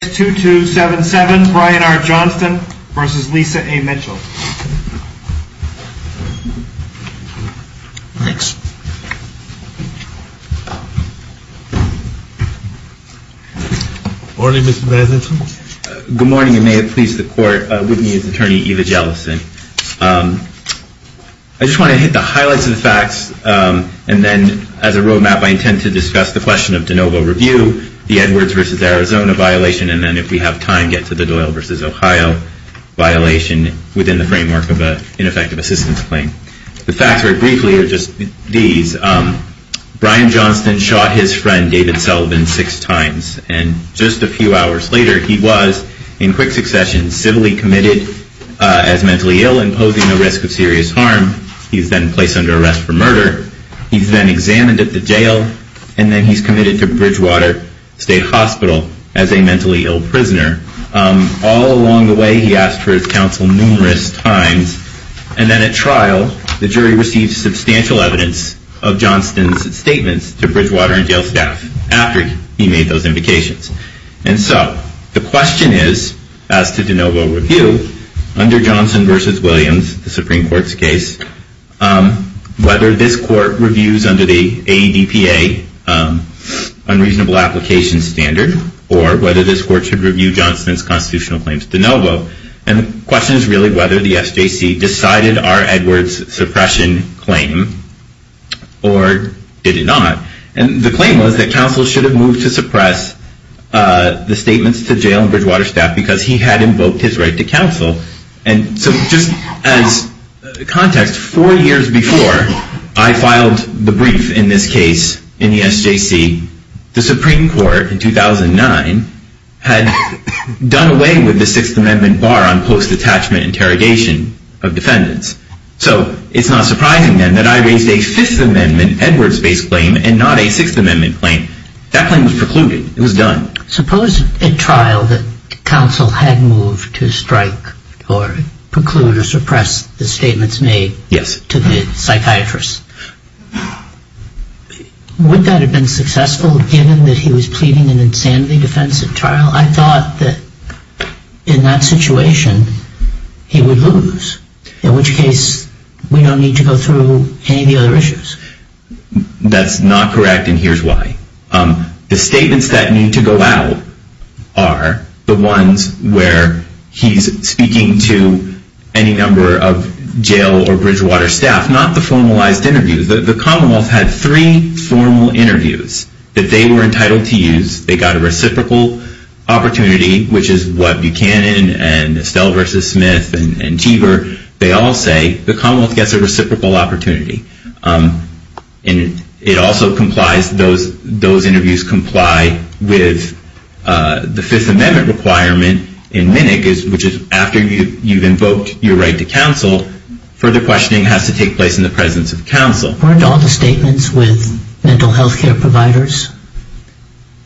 Good morning and may it please the court, Whitney's attorney Eva Jellison. I just want to hit the highlights of the facts and then as a road map I intend to discuss the question of de novo review, the Edwards v. Arizona violation, and then if we have time get to the Doyle v. Ohio violation within the framework of an ineffective assistance claim. The facts very briefly are just these. Brian Johnston shot his friend David Sullivan six times and just a few hours later he was, in quick succession, civilly committed as mentally ill and posing a risk of serious harm. He's then placed under arrest for murder. He's then examined at the jail and then he's committed to Bridgewater State Hospital as a mentally ill prisoner. All along the way he asked for his counsel numerous times and then at trial the jury received substantial evidence of Johnston's statements to Bridgewater and jail staff after he made those invocations. And so the question is, as to de novo review, under Johnston v. Williams, the Supreme Court's case, whether this court reviews under the ADPA unreasonable application standard or whether this court should review Johnston's constitutional claims de novo. And the question is really whether the SJC decided our Edwards suppression claim or did it not. And the claim was that counsel should have moved to suppress the statements to jail and Bridgewater staff because he had invoked his right to counsel. And so just as context, four years before I filed the brief in this case in the SJC, the Supreme Court in 2009 had done away with the Sixth Amendment bar on post-detachment interrogation of defendants. So it's not surprising then that I raised a Fifth Amendment Edwards base claim and not a Sixth Amendment claim. That claim was precluded. It was done. Suppose at trial that counsel had moved to strike or preclude or suppress the statements made to the psychiatrist. Would that have been successful given that he was pleading in insanity defense at trial? I thought that in that situation he would lose, in which case we don't need to go through any of the other issues. That's not correct and here's why. The statements that need to go out are the ones where he's speaking to any number of jail or Bridgewater staff, not the formalized interviews. The Commonwealth had three formal interviews that they were entitled to use. They got a reciprocal opportunity, which is what Buchanan and Estelle versus Smith and Teaver, they all say the Commonwealth gets a reciprocal opportunity. And it also complies, those interviews comply with the Fifth Amendment requirement in MNIC, which is after you've invoked your right to counsel, further questioning has to take place in the presence of counsel. Weren't all the statements with mental health care providers?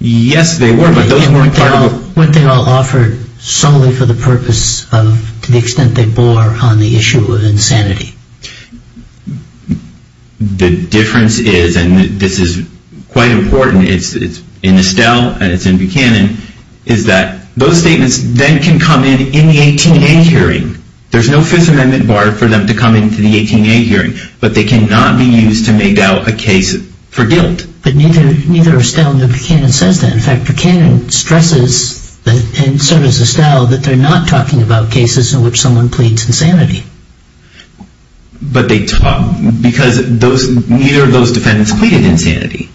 Yes, they were, but those weren't part of the... And weren't they all offered solely for the purpose of, to the extent they bore on the issue of insanity? The difference is, and this is quite important, it's in Estelle and it's in Buchanan, is that those statements then can come in in the 18A hearing. There's no Fifth Amendment bar for them to come into the 18A hearing, but they cannot be used to make out a case for guilt. But neither Estelle nor Buchanan says that. In fact, Buchanan stresses, and so does Estelle, that they're not talking about cases in which someone pleads insanity. But they talk, because neither of those defendants pleaded insanity.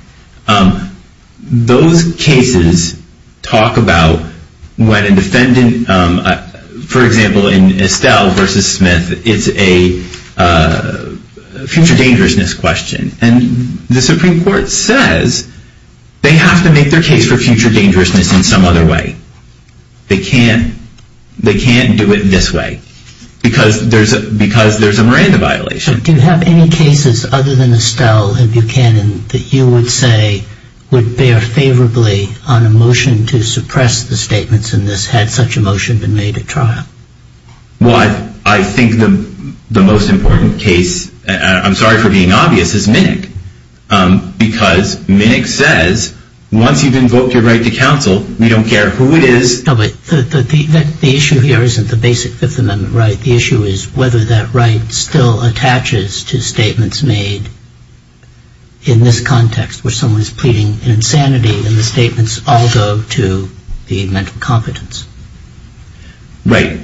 Those cases talk about when a defendant, for example, in Estelle versus Smith, it's a future dangerousness question. And the Supreme Court says they have to make their case for future dangerousness in some other way. They can't do it this way, because there's a Miranda violation. Do you have any cases other than Estelle and Buchanan that you would say would bear favorably on a motion to suppress the statements in this, had such a motion been made at trial? Well, I think the most important case, and I'm sorry for being obvious, is Minnick. Because Minnick says, once you've invoked your right to counsel, we don't care who it is. No, but the issue here isn't the basic Fifth Amendment right. The issue is whether that right still attaches to statements made in this context, where someone is pleading insanity, and the statements all go to the mental competence. Right.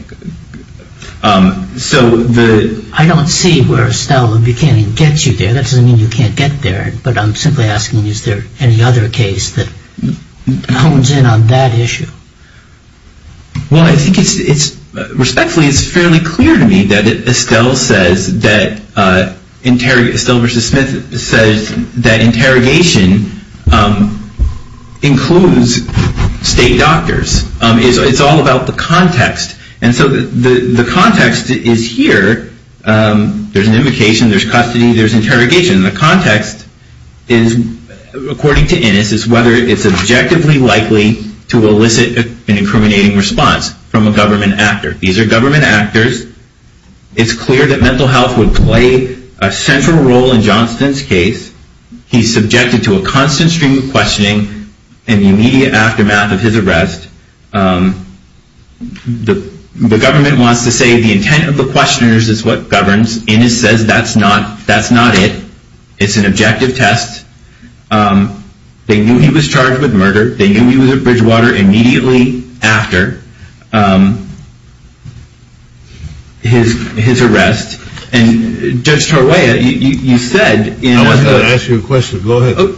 So the... I don't see where Estelle and Buchanan gets you there. That doesn't mean you can't get there. But I'm simply asking, is there any other case that hones in on that issue? Well, I think it's, respectfully, it's fairly clear to me that Estelle says that interrogation, Estelle versus Smith says that interrogation includes state doctors. It's all about the context. And so the context is here. There's an invocation, there's custody, there's interrogation. The context is, according to Innis, is whether it's objectively likely to elicit an incriminating response from a government actor. These are government actors. It's clear that mental health would play a central role in Johnston's case. He's subjected to a constant stream of questioning in the immediate aftermath of his arrest. The government wants to say the intent of the questioners is what governs. Innis says that's not it. It's an objective test. They knew he was charged with murder. They knew he was at Bridgewater immediately after his arrest. And Judge Tarweya, you said... I was going to ask you a question. Go ahead.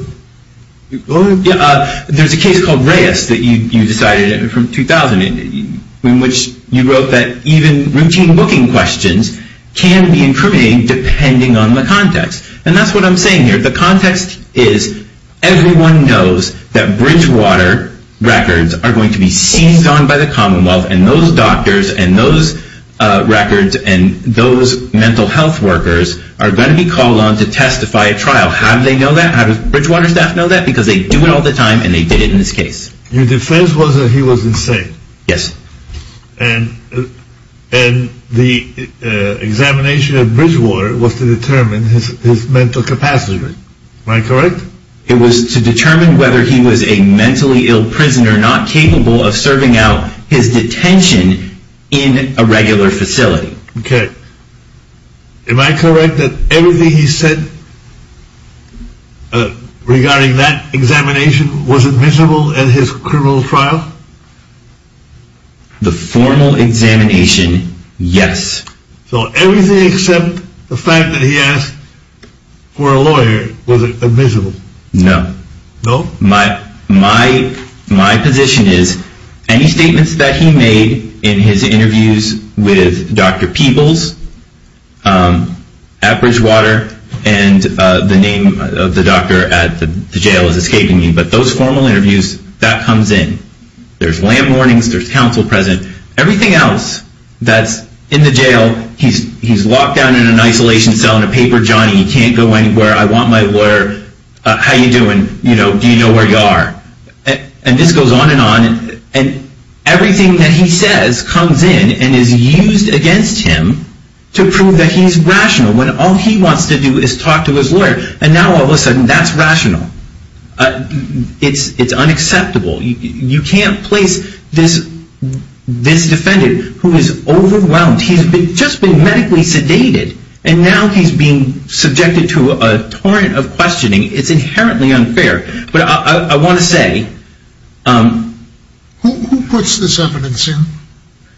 There's a case called Reyes that you decided from 2000 in which you wrote that even routine booking questions can be incriminating depending on the context. And that's what I'm saying here. The context is everyone knows that Bridgewater records are going to be seized on by the Commonwealth and those doctors and those records and those mental health workers are going to be called on to testify at trial. How do they know that? How does Bridgewater staff know that? Because they do it all the time and they did it in this case. Your defense was that he was insane. Yes. And the examination at Bridgewater was to determine his mental capacity. Am I correct? It was to determine whether he was a mentally ill prisoner not capable of serving out his detention in a regular facility. Okay. Am I correct that everything he said regarding that examination was admissible at his criminal trial? The formal examination, yes. So everything except the fact that he asked for a lawyer was admissible? No. No? My position is any statements that he made in his interviews with Dr. Peebles at Bridgewater and the name of the doctor at the jail is escaping me, but those formal interviews, that comes in. There's lamp warnings. There's counsel present. Everything else that's in the jail, he's locked down in an isolation cell in a paper johnny. He can't go anywhere. I want my lawyer. How you doing? Do you know where you are? And this goes on and on and everything that he says comes in and is used against him to prove that he's rational when all he wants to do is talk to his lawyer and now all of a sudden that's rational. It's unacceptable. You can't place this defendant who is overwhelmed. He's just been medically sedated and now he's being subjected to a torrent of questioning. It's inherently unfair, but I want to say. Who puts this evidence in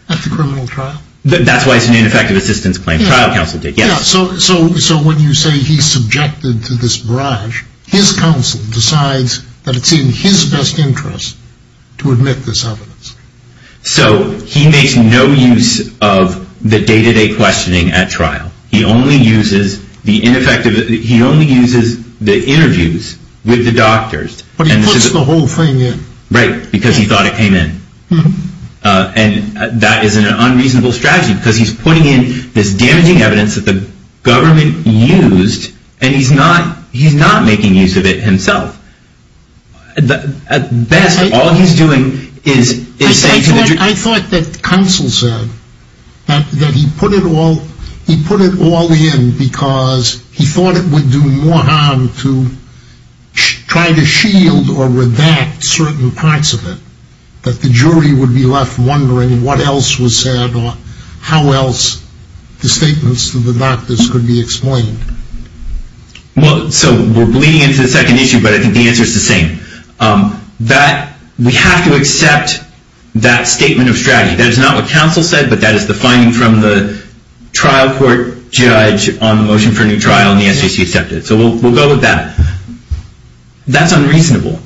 at the criminal trial? That's why it's an ineffective assistance claim. So when you say he's subjected to this barrage, his counsel decides that it's in his best interest to admit this evidence. So he makes no use of the day-to-day questioning at trial. He only uses the interviews with the doctors. But he puts the whole thing in. Right, because he thought it came in. And that is an unreasonable strategy because he's putting in this damaging evidence that the government used and he's not making use of it himself. At best, all he's doing is saying to the jury. I thought that counsel said that he put it all in because he thought it would do more harm to try to shield or redact certain parts of it. But the jury would be left wondering what else was said or how else the statements to the doctors could be explained. Well, so we're bleeding into the second issue, but I think the answer is the same. That we have to accept that statement of strategy. That is not what counsel said, but that is the finding from the trial court judge on the motion for a new trial and the SJC accepted it. So we'll go with that. That's unreasonable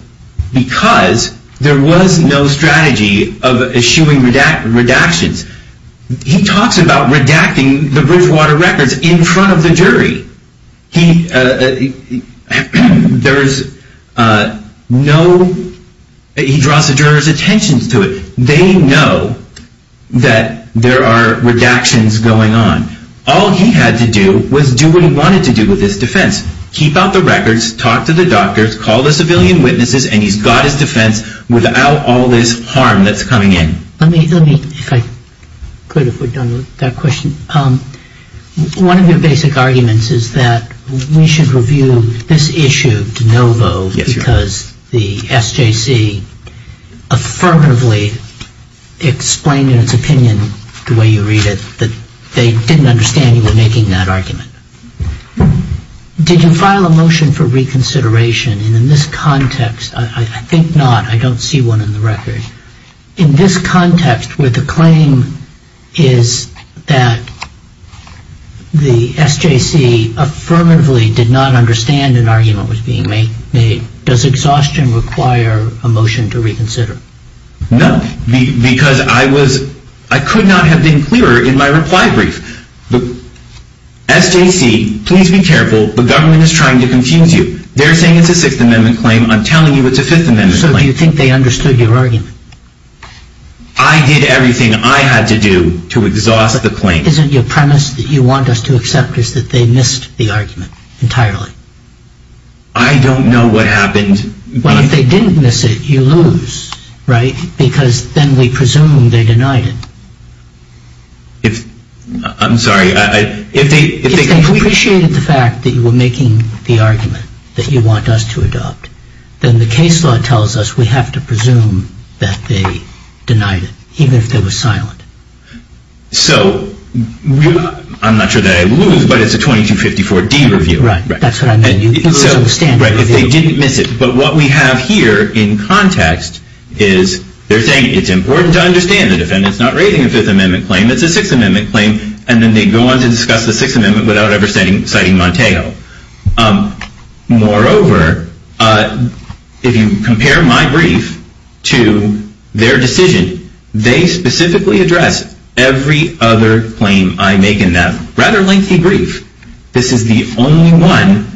because there was no strategy of issuing redactions. He talks about redacting the Bridgewater records in front of the jury. He draws the jurors' attention to it. They know that there are redactions going on. All he had to do was do what he wanted to do with this defense. Keep out the records, talk to the doctors, call the civilian witnesses, and he's got his defense without all this harm that's coming in. Let me, if I could, if we're done with that question. One of your basic arguments is that we should review this issue de novo because the SJC affirmatively explained in its opinion, the way you read it, that they didn't understand you were making that argument. Did you file a motion for reconsideration in this context? I think not. I don't see one in the record. In this context where the claim is that the SJC affirmatively did not understand an argument was being made, does exhaustion require a motion to reconsider? No, because I was, I could not have been clearer in my reply brief. SJC, please be careful, the government is trying to confuse you. They're saying it's a Sixth Amendment claim, I'm telling you it's a Fifth Amendment claim. So you think they understood your argument? I did everything I had to do to exhaust the claim. Isn't your premise that you want us to accept is that they missed the argument entirely? I don't know what happened. Well, if they didn't miss it, you lose, right? Because then we presume they denied it. If, I'm sorry, if they... If they appreciated the fact that you were making the argument that you want us to adopt, then the case law tells us we have to presume that they denied it, even if they were silent. So, I'm not sure that I would lose, but it's a 2254D review. Right, that's what I meant, you lose on the standard review. They didn't miss it, but what we have here in context is they're saying it's important to understand the defendant's not raising a Fifth Amendment claim, it's a Sixth Amendment claim, and then they go on to discuss the Sixth Amendment without ever citing Montego. Moreover, if you compare my brief to their decision, they specifically address every other claim I make in that rather lengthy brief. This is the only one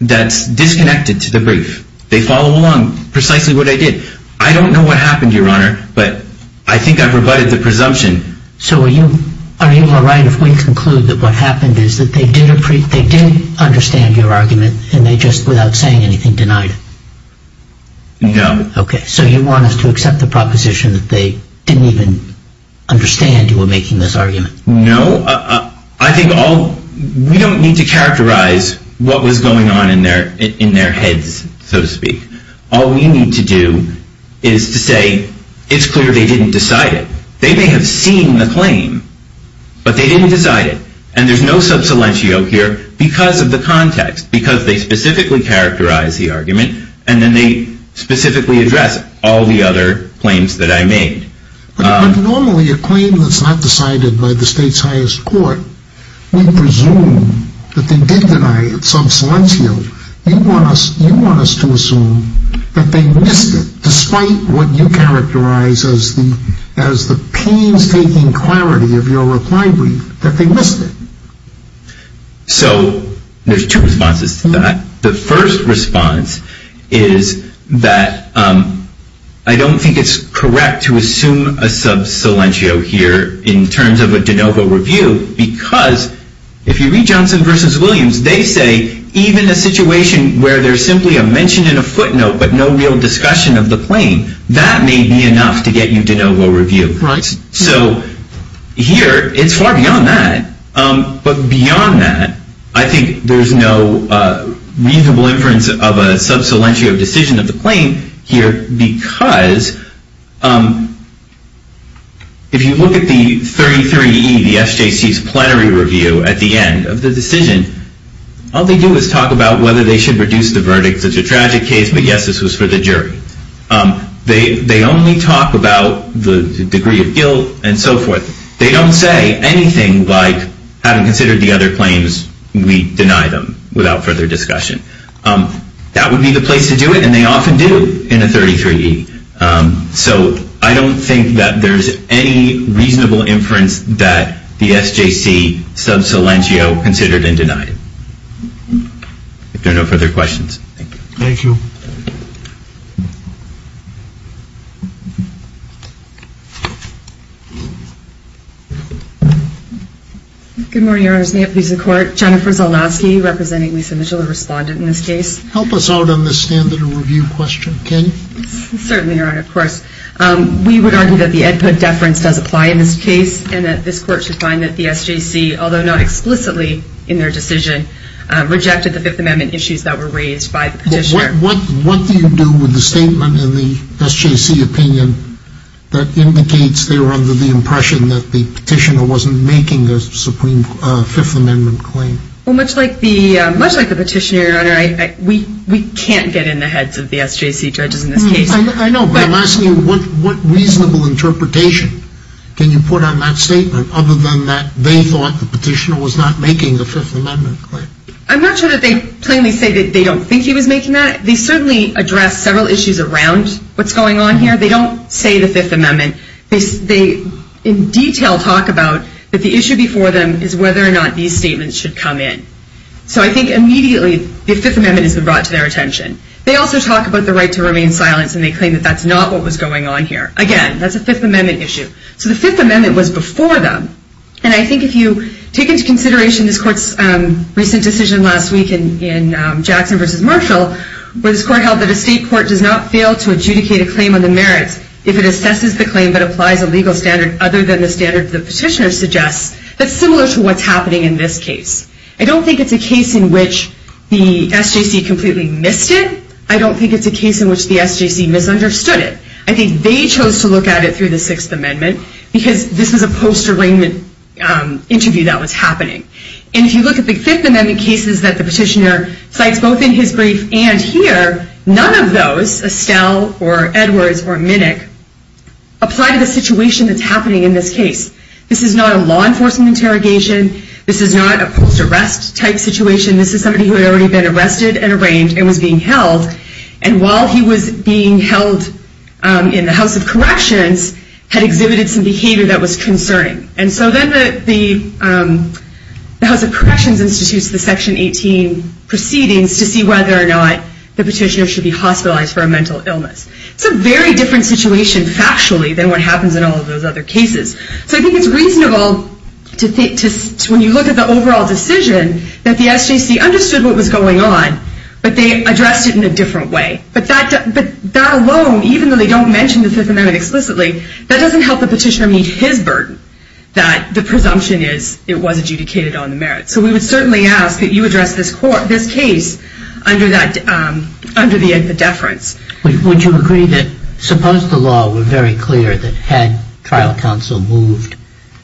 that's disconnected to the brief. They follow along precisely what I did. I don't know what happened, Your Honor, but I think I've rebutted the presumption. So, are you all right if we conclude that what happened is that they did understand your argument and they just, without saying anything, denied it? No. Okay, so you want us to accept the proposition that they didn't even understand you were making this argument? No, I think we don't need to characterize what was going on in their heads, so to speak. All we need to do is to say it's clear they didn't decide it. They may have seen the claim, but they didn't decide it. And there's no subsilentio here because of the context, because they specifically characterize the argument, and then they specifically address all the other claims that I made. But normally a claim that's not decided by the state's highest court, we presume that they did deny it subsilentio. You want us to assume that they missed it, despite what you characterize as the painstaking clarity of your reply brief, that they missed it. So, there's two responses to that. The first response is that I don't think it's correct to assume a subsilentio here in terms of a de novo review because if you read Johnson v. Williams, they say even a situation where there's simply a mention in a footnote but no real discussion of the claim, that may be enough to get you de novo review. Right. So, here, it's far beyond that. But beyond that, I think there's no reasonable inference of a subsilentio decision of the claim here because if you look at the 33E, the SJC's plenary review at the end of the decision, all they do is talk about whether they should reduce the verdict. It's a tragic case, but yes, this was for the jury. They only talk about the degree of guilt and so forth. They don't say anything like, having considered the other claims, we deny them without further discussion. That would be the place to do it, and they often do in a 33E. So, I don't think that there's any reasonable inference that the SJC subsilentio considered and denied. Thank you. Good morning, Your Honor. May it please the Court. Jennifer Zolosky representing Lisa Mitchell, a respondent in this case. Help us out on this standard of review question, can you? Certainly, Your Honor. Of course. We would argue that the input deference does apply in this case and that this Court should find that the SJC, although not explicitly in their decision, rejected the Fifth Amendment issues that were raised by the petitioner. What do you do with the statement in the SJC opinion that indicates they were under the impression that the petitioner wasn't making a Fifth Amendment claim? Well, much like the petitioner, Your Honor, we can't get in the heads of the SJC judges in this case. I know, but I'm asking you, what reasonable interpretation can you put on that statement, other than that they thought the petitioner was not making the Fifth Amendment claim? I'm not sure that they plainly say that they don't think he was making that. They certainly address several issues around what's going on here. They don't say the Fifth Amendment. They, in detail, talk about that the issue before them is whether or not these statements should come in. So, I think immediately the Fifth Amendment has been brought to their attention. They also talk about the right to remain silent, and they claim that that's not what was going on here. Again, that's a Fifth Amendment issue. So, the Fifth Amendment was before them. And I think if you take into consideration this Court's recent decision last week in Jackson v. Marshall, where this Court held that a state court does not fail to adjudicate a claim on the merits if it assesses the claim but applies a legal standard other than the standard the petitioner suggests, that's similar to what's happening in this case. I don't think it's a case in which the SJC completely missed it. I don't think it's a case in which the SJC misunderstood it. I think they chose to look at it through the Sixth Amendment because this is a post-arraignment interview that was happening. And if you look at the Fifth Amendment cases that the petitioner cites both in his brief and here, none of those, Estelle or Edwards or Minnick, apply to the situation that's happening in this case. This is not a law enforcement interrogation. This is not a post-arrest type situation. This is somebody who had already been arrested and arraigned and was being held. And while he was being held in the House of Corrections, had exhibited some behavior that was concerning. And so then the House of Corrections institutes the Section 18 proceedings to see whether or not the petitioner should be hospitalized for a mental illness. It's a very different situation factually than what happens in all of those other cases. So I think it's reasonable, when you look at the overall decision, that the SJC understood what was going on, but they addressed it in a different way. But that alone, even though they don't mention the Fifth Amendment explicitly, that doesn't help the petitioner meet his burden that the presumption is it was adjudicated on the merits. So we would certainly ask that you address this case under the inference. Would you agree that suppose the law were very clear that had trial counsel moved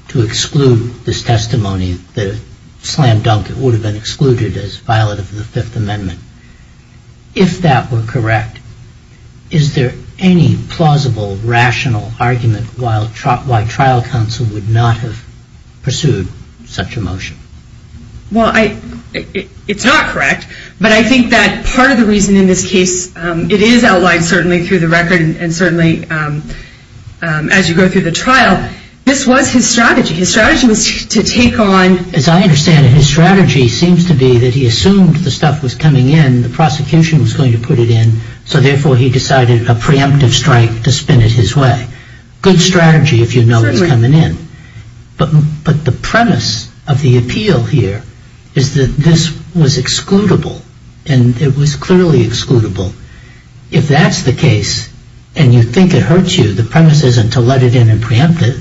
to exclude this testimony, that it would have been excluded as violent of the Fifth Amendment. If that were correct, is there any plausible, rational argument why trial counsel would not have pursued such a motion? Well, it's not correct, but I think that part of the reason in this case, it is outlined certainly through the record and certainly as you go through the trial, this was his strategy. His strategy was to take on... As I understand it, his strategy seems to be that he assumed the stuff was coming in, the prosecution was going to put it in, so therefore he decided a preemptive strike to spin it his way. Good strategy if you know it's coming in. But the premise of the appeal here is that this was excludable and it was clearly excludable. If that's the case and you think it hurts you, the premise isn't to let it in and preempt it.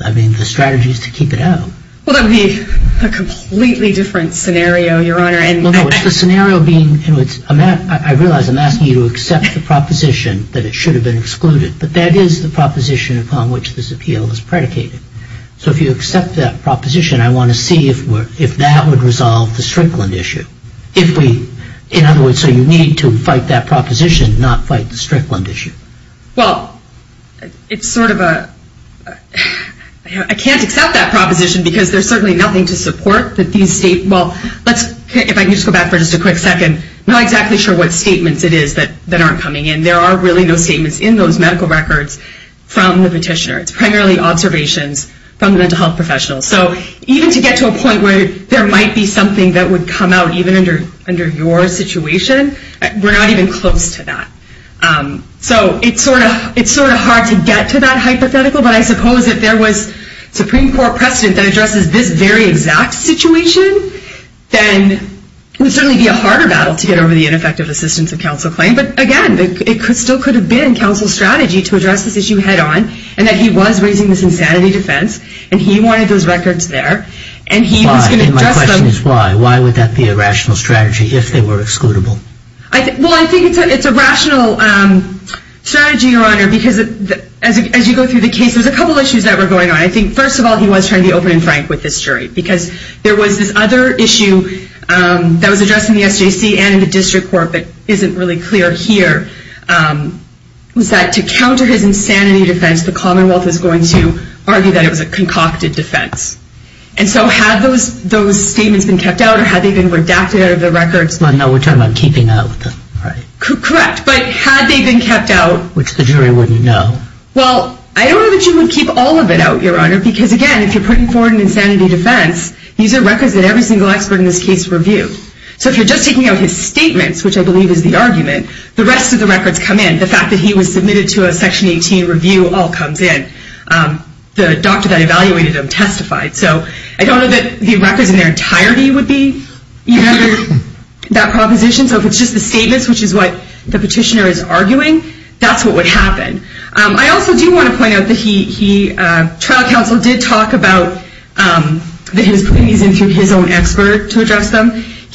I mean, the strategy is to keep it out. Well, that would be a completely different scenario, Your Honor. No, no, it's the scenario being... I realize I'm asking you to accept the proposition that it should have been excluded, but that is the proposition upon which this appeal is predicated. So if you accept that proposition, I want to see if that would resolve the Strickland issue. In other words, so you need to fight that proposition, not fight the Strickland issue. Well, it's sort of a... I can't accept that proposition because there's certainly nothing to support that these statements... Well, if I can just go back for just a quick second, I'm not exactly sure what statements it is that aren't coming in. I mean, there are really no statements in those medical records from the petitioner. It's primarily observations from mental health professionals. So even to get to a point where there might be something that would come out even under your situation, we're not even close to that. So it's sort of hard to get to that hypothetical, but I suppose if there was Supreme Court precedent that addresses this very exact situation, then it would certainly be a harder battle to get over the ineffective assistance of counsel claim. But again, it still could have been counsel's strategy to address this issue head on, and that he was raising this insanity defense, and he wanted those records there, and he was going to address them... And my question is why. Why would that be a rational strategy if they were excludable? Well, I think it's a rational strategy, Your Honor, because as you go through the case, there's a couple of issues that were going on. I think, first of all, he was trying to be open and frank with this jury, because there was this other issue that was addressed in the SJC and in the district court that isn't really clear here, was that to counter his insanity defense, the Commonwealth was going to argue that it was a concocted defense. And so had those statements been kept out, or had they been redacted out of the records? No, we're talking about keeping out, right? Correct. But had they been kept out... Which the jury wouldn't know. Well, I don't know that you would keep all of it out, Your Honor, because again, if you're putting forward an insanity defense, these are records that every single expert in this case reviewed. So if you're just taking out his statements, which I believe is the argument, the rest of the records come in. The fact that he was submitted to a Section 18 review all comes in. The doctor that evaluated him testified. So I don't know that the records in their entirety would be even under that proposition. So if it's just the statements, which is what the petitioner is arguing, that's what would happen. I also do want to point out that he...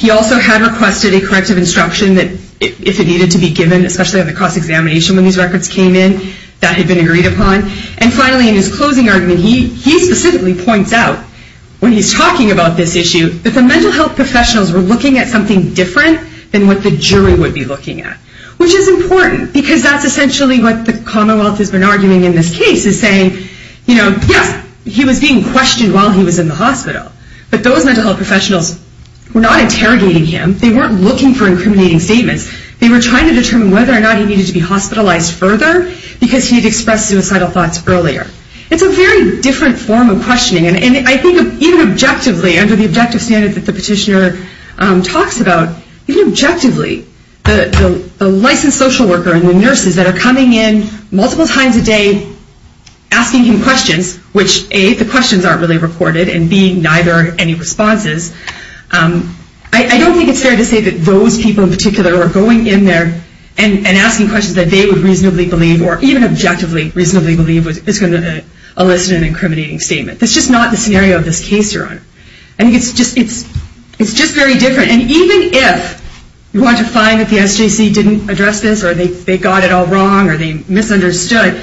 He also had requested a corrective instruction that if it needed to be given, especially on the cross-examination when these records came in, that had been agreed upon. And finally, in his closing argument, he specifically points out, when he's talking about this issue, that the mental health professionals were looking at something different than what the jury would be looking at. Which is important, because that's essentially what the Commonwealth has been arguing in this case, is saying, you know, yes, he was being questioned while he was in the hospital, but those mental health professionals were not interrogating him. They weren't looking for incriminating statements. They were trying to determine whether or not he needed to be hospitalized further, because he had expressed suicidal thoughts earlier. It's a very different form of questioning, and I think even objectively, under the objective standard that the petitioner talks about, even objectively, the licensed social worker and the nurses that are coming in multiple times a day asking him questions, which, A, the questions aren't really reported, and B, neither are any responses. I don't think it's fair to say that those people in particular are going in there and asking questions that they would reasonably believe, or even objectively reasonably believe, is going to elicit an incriminating statement. That's just not the scenario of this case, Your Honor. I think it's just very different. And even if you want to find that the SJC didn't address this, or they got it all wrong, or they misunderstood,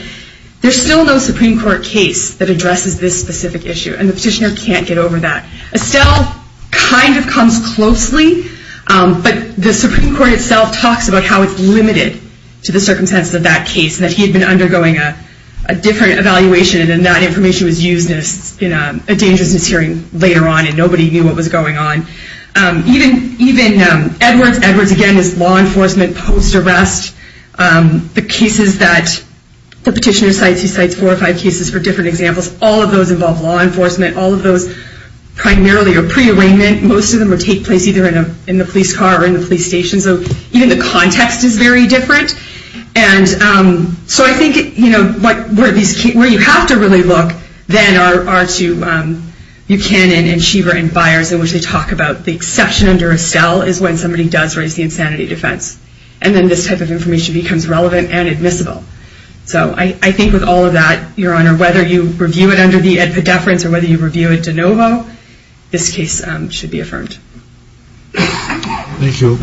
there's still no Supreme Court case that addresses this specific issue, and the petitioner can't get over that. Estelle kind of comes closely, but the Supreme Court itself talks about how it's limited to the circumstances of that case, and that he had been undergoing a different evaluation, and then that information was used in a dangerousness hearing later on, and nobody knew what was going on. Even Edwards, Edwards again is law enforcement post-arrest. The cases that the petitioner cites, he cites four or five cases for different examples. All of those involve law enforcement. All of those primarily are pre-arraignment. Most of them would take place either in the police car or in the police station, so even the context is very different. And so I think, you know, where you have to really look, then, are to Buchanan and Schieber and Byers, in which they talk about the exception under Estelle is when somebody does raise the insanity defense. And then this type of information becomes relevant and admissible. So I think with all of that, Your Honor, whether you review it under the Ed Poddeference or whether you review it de novo, this case should be affirmed. Thank you. Thank you.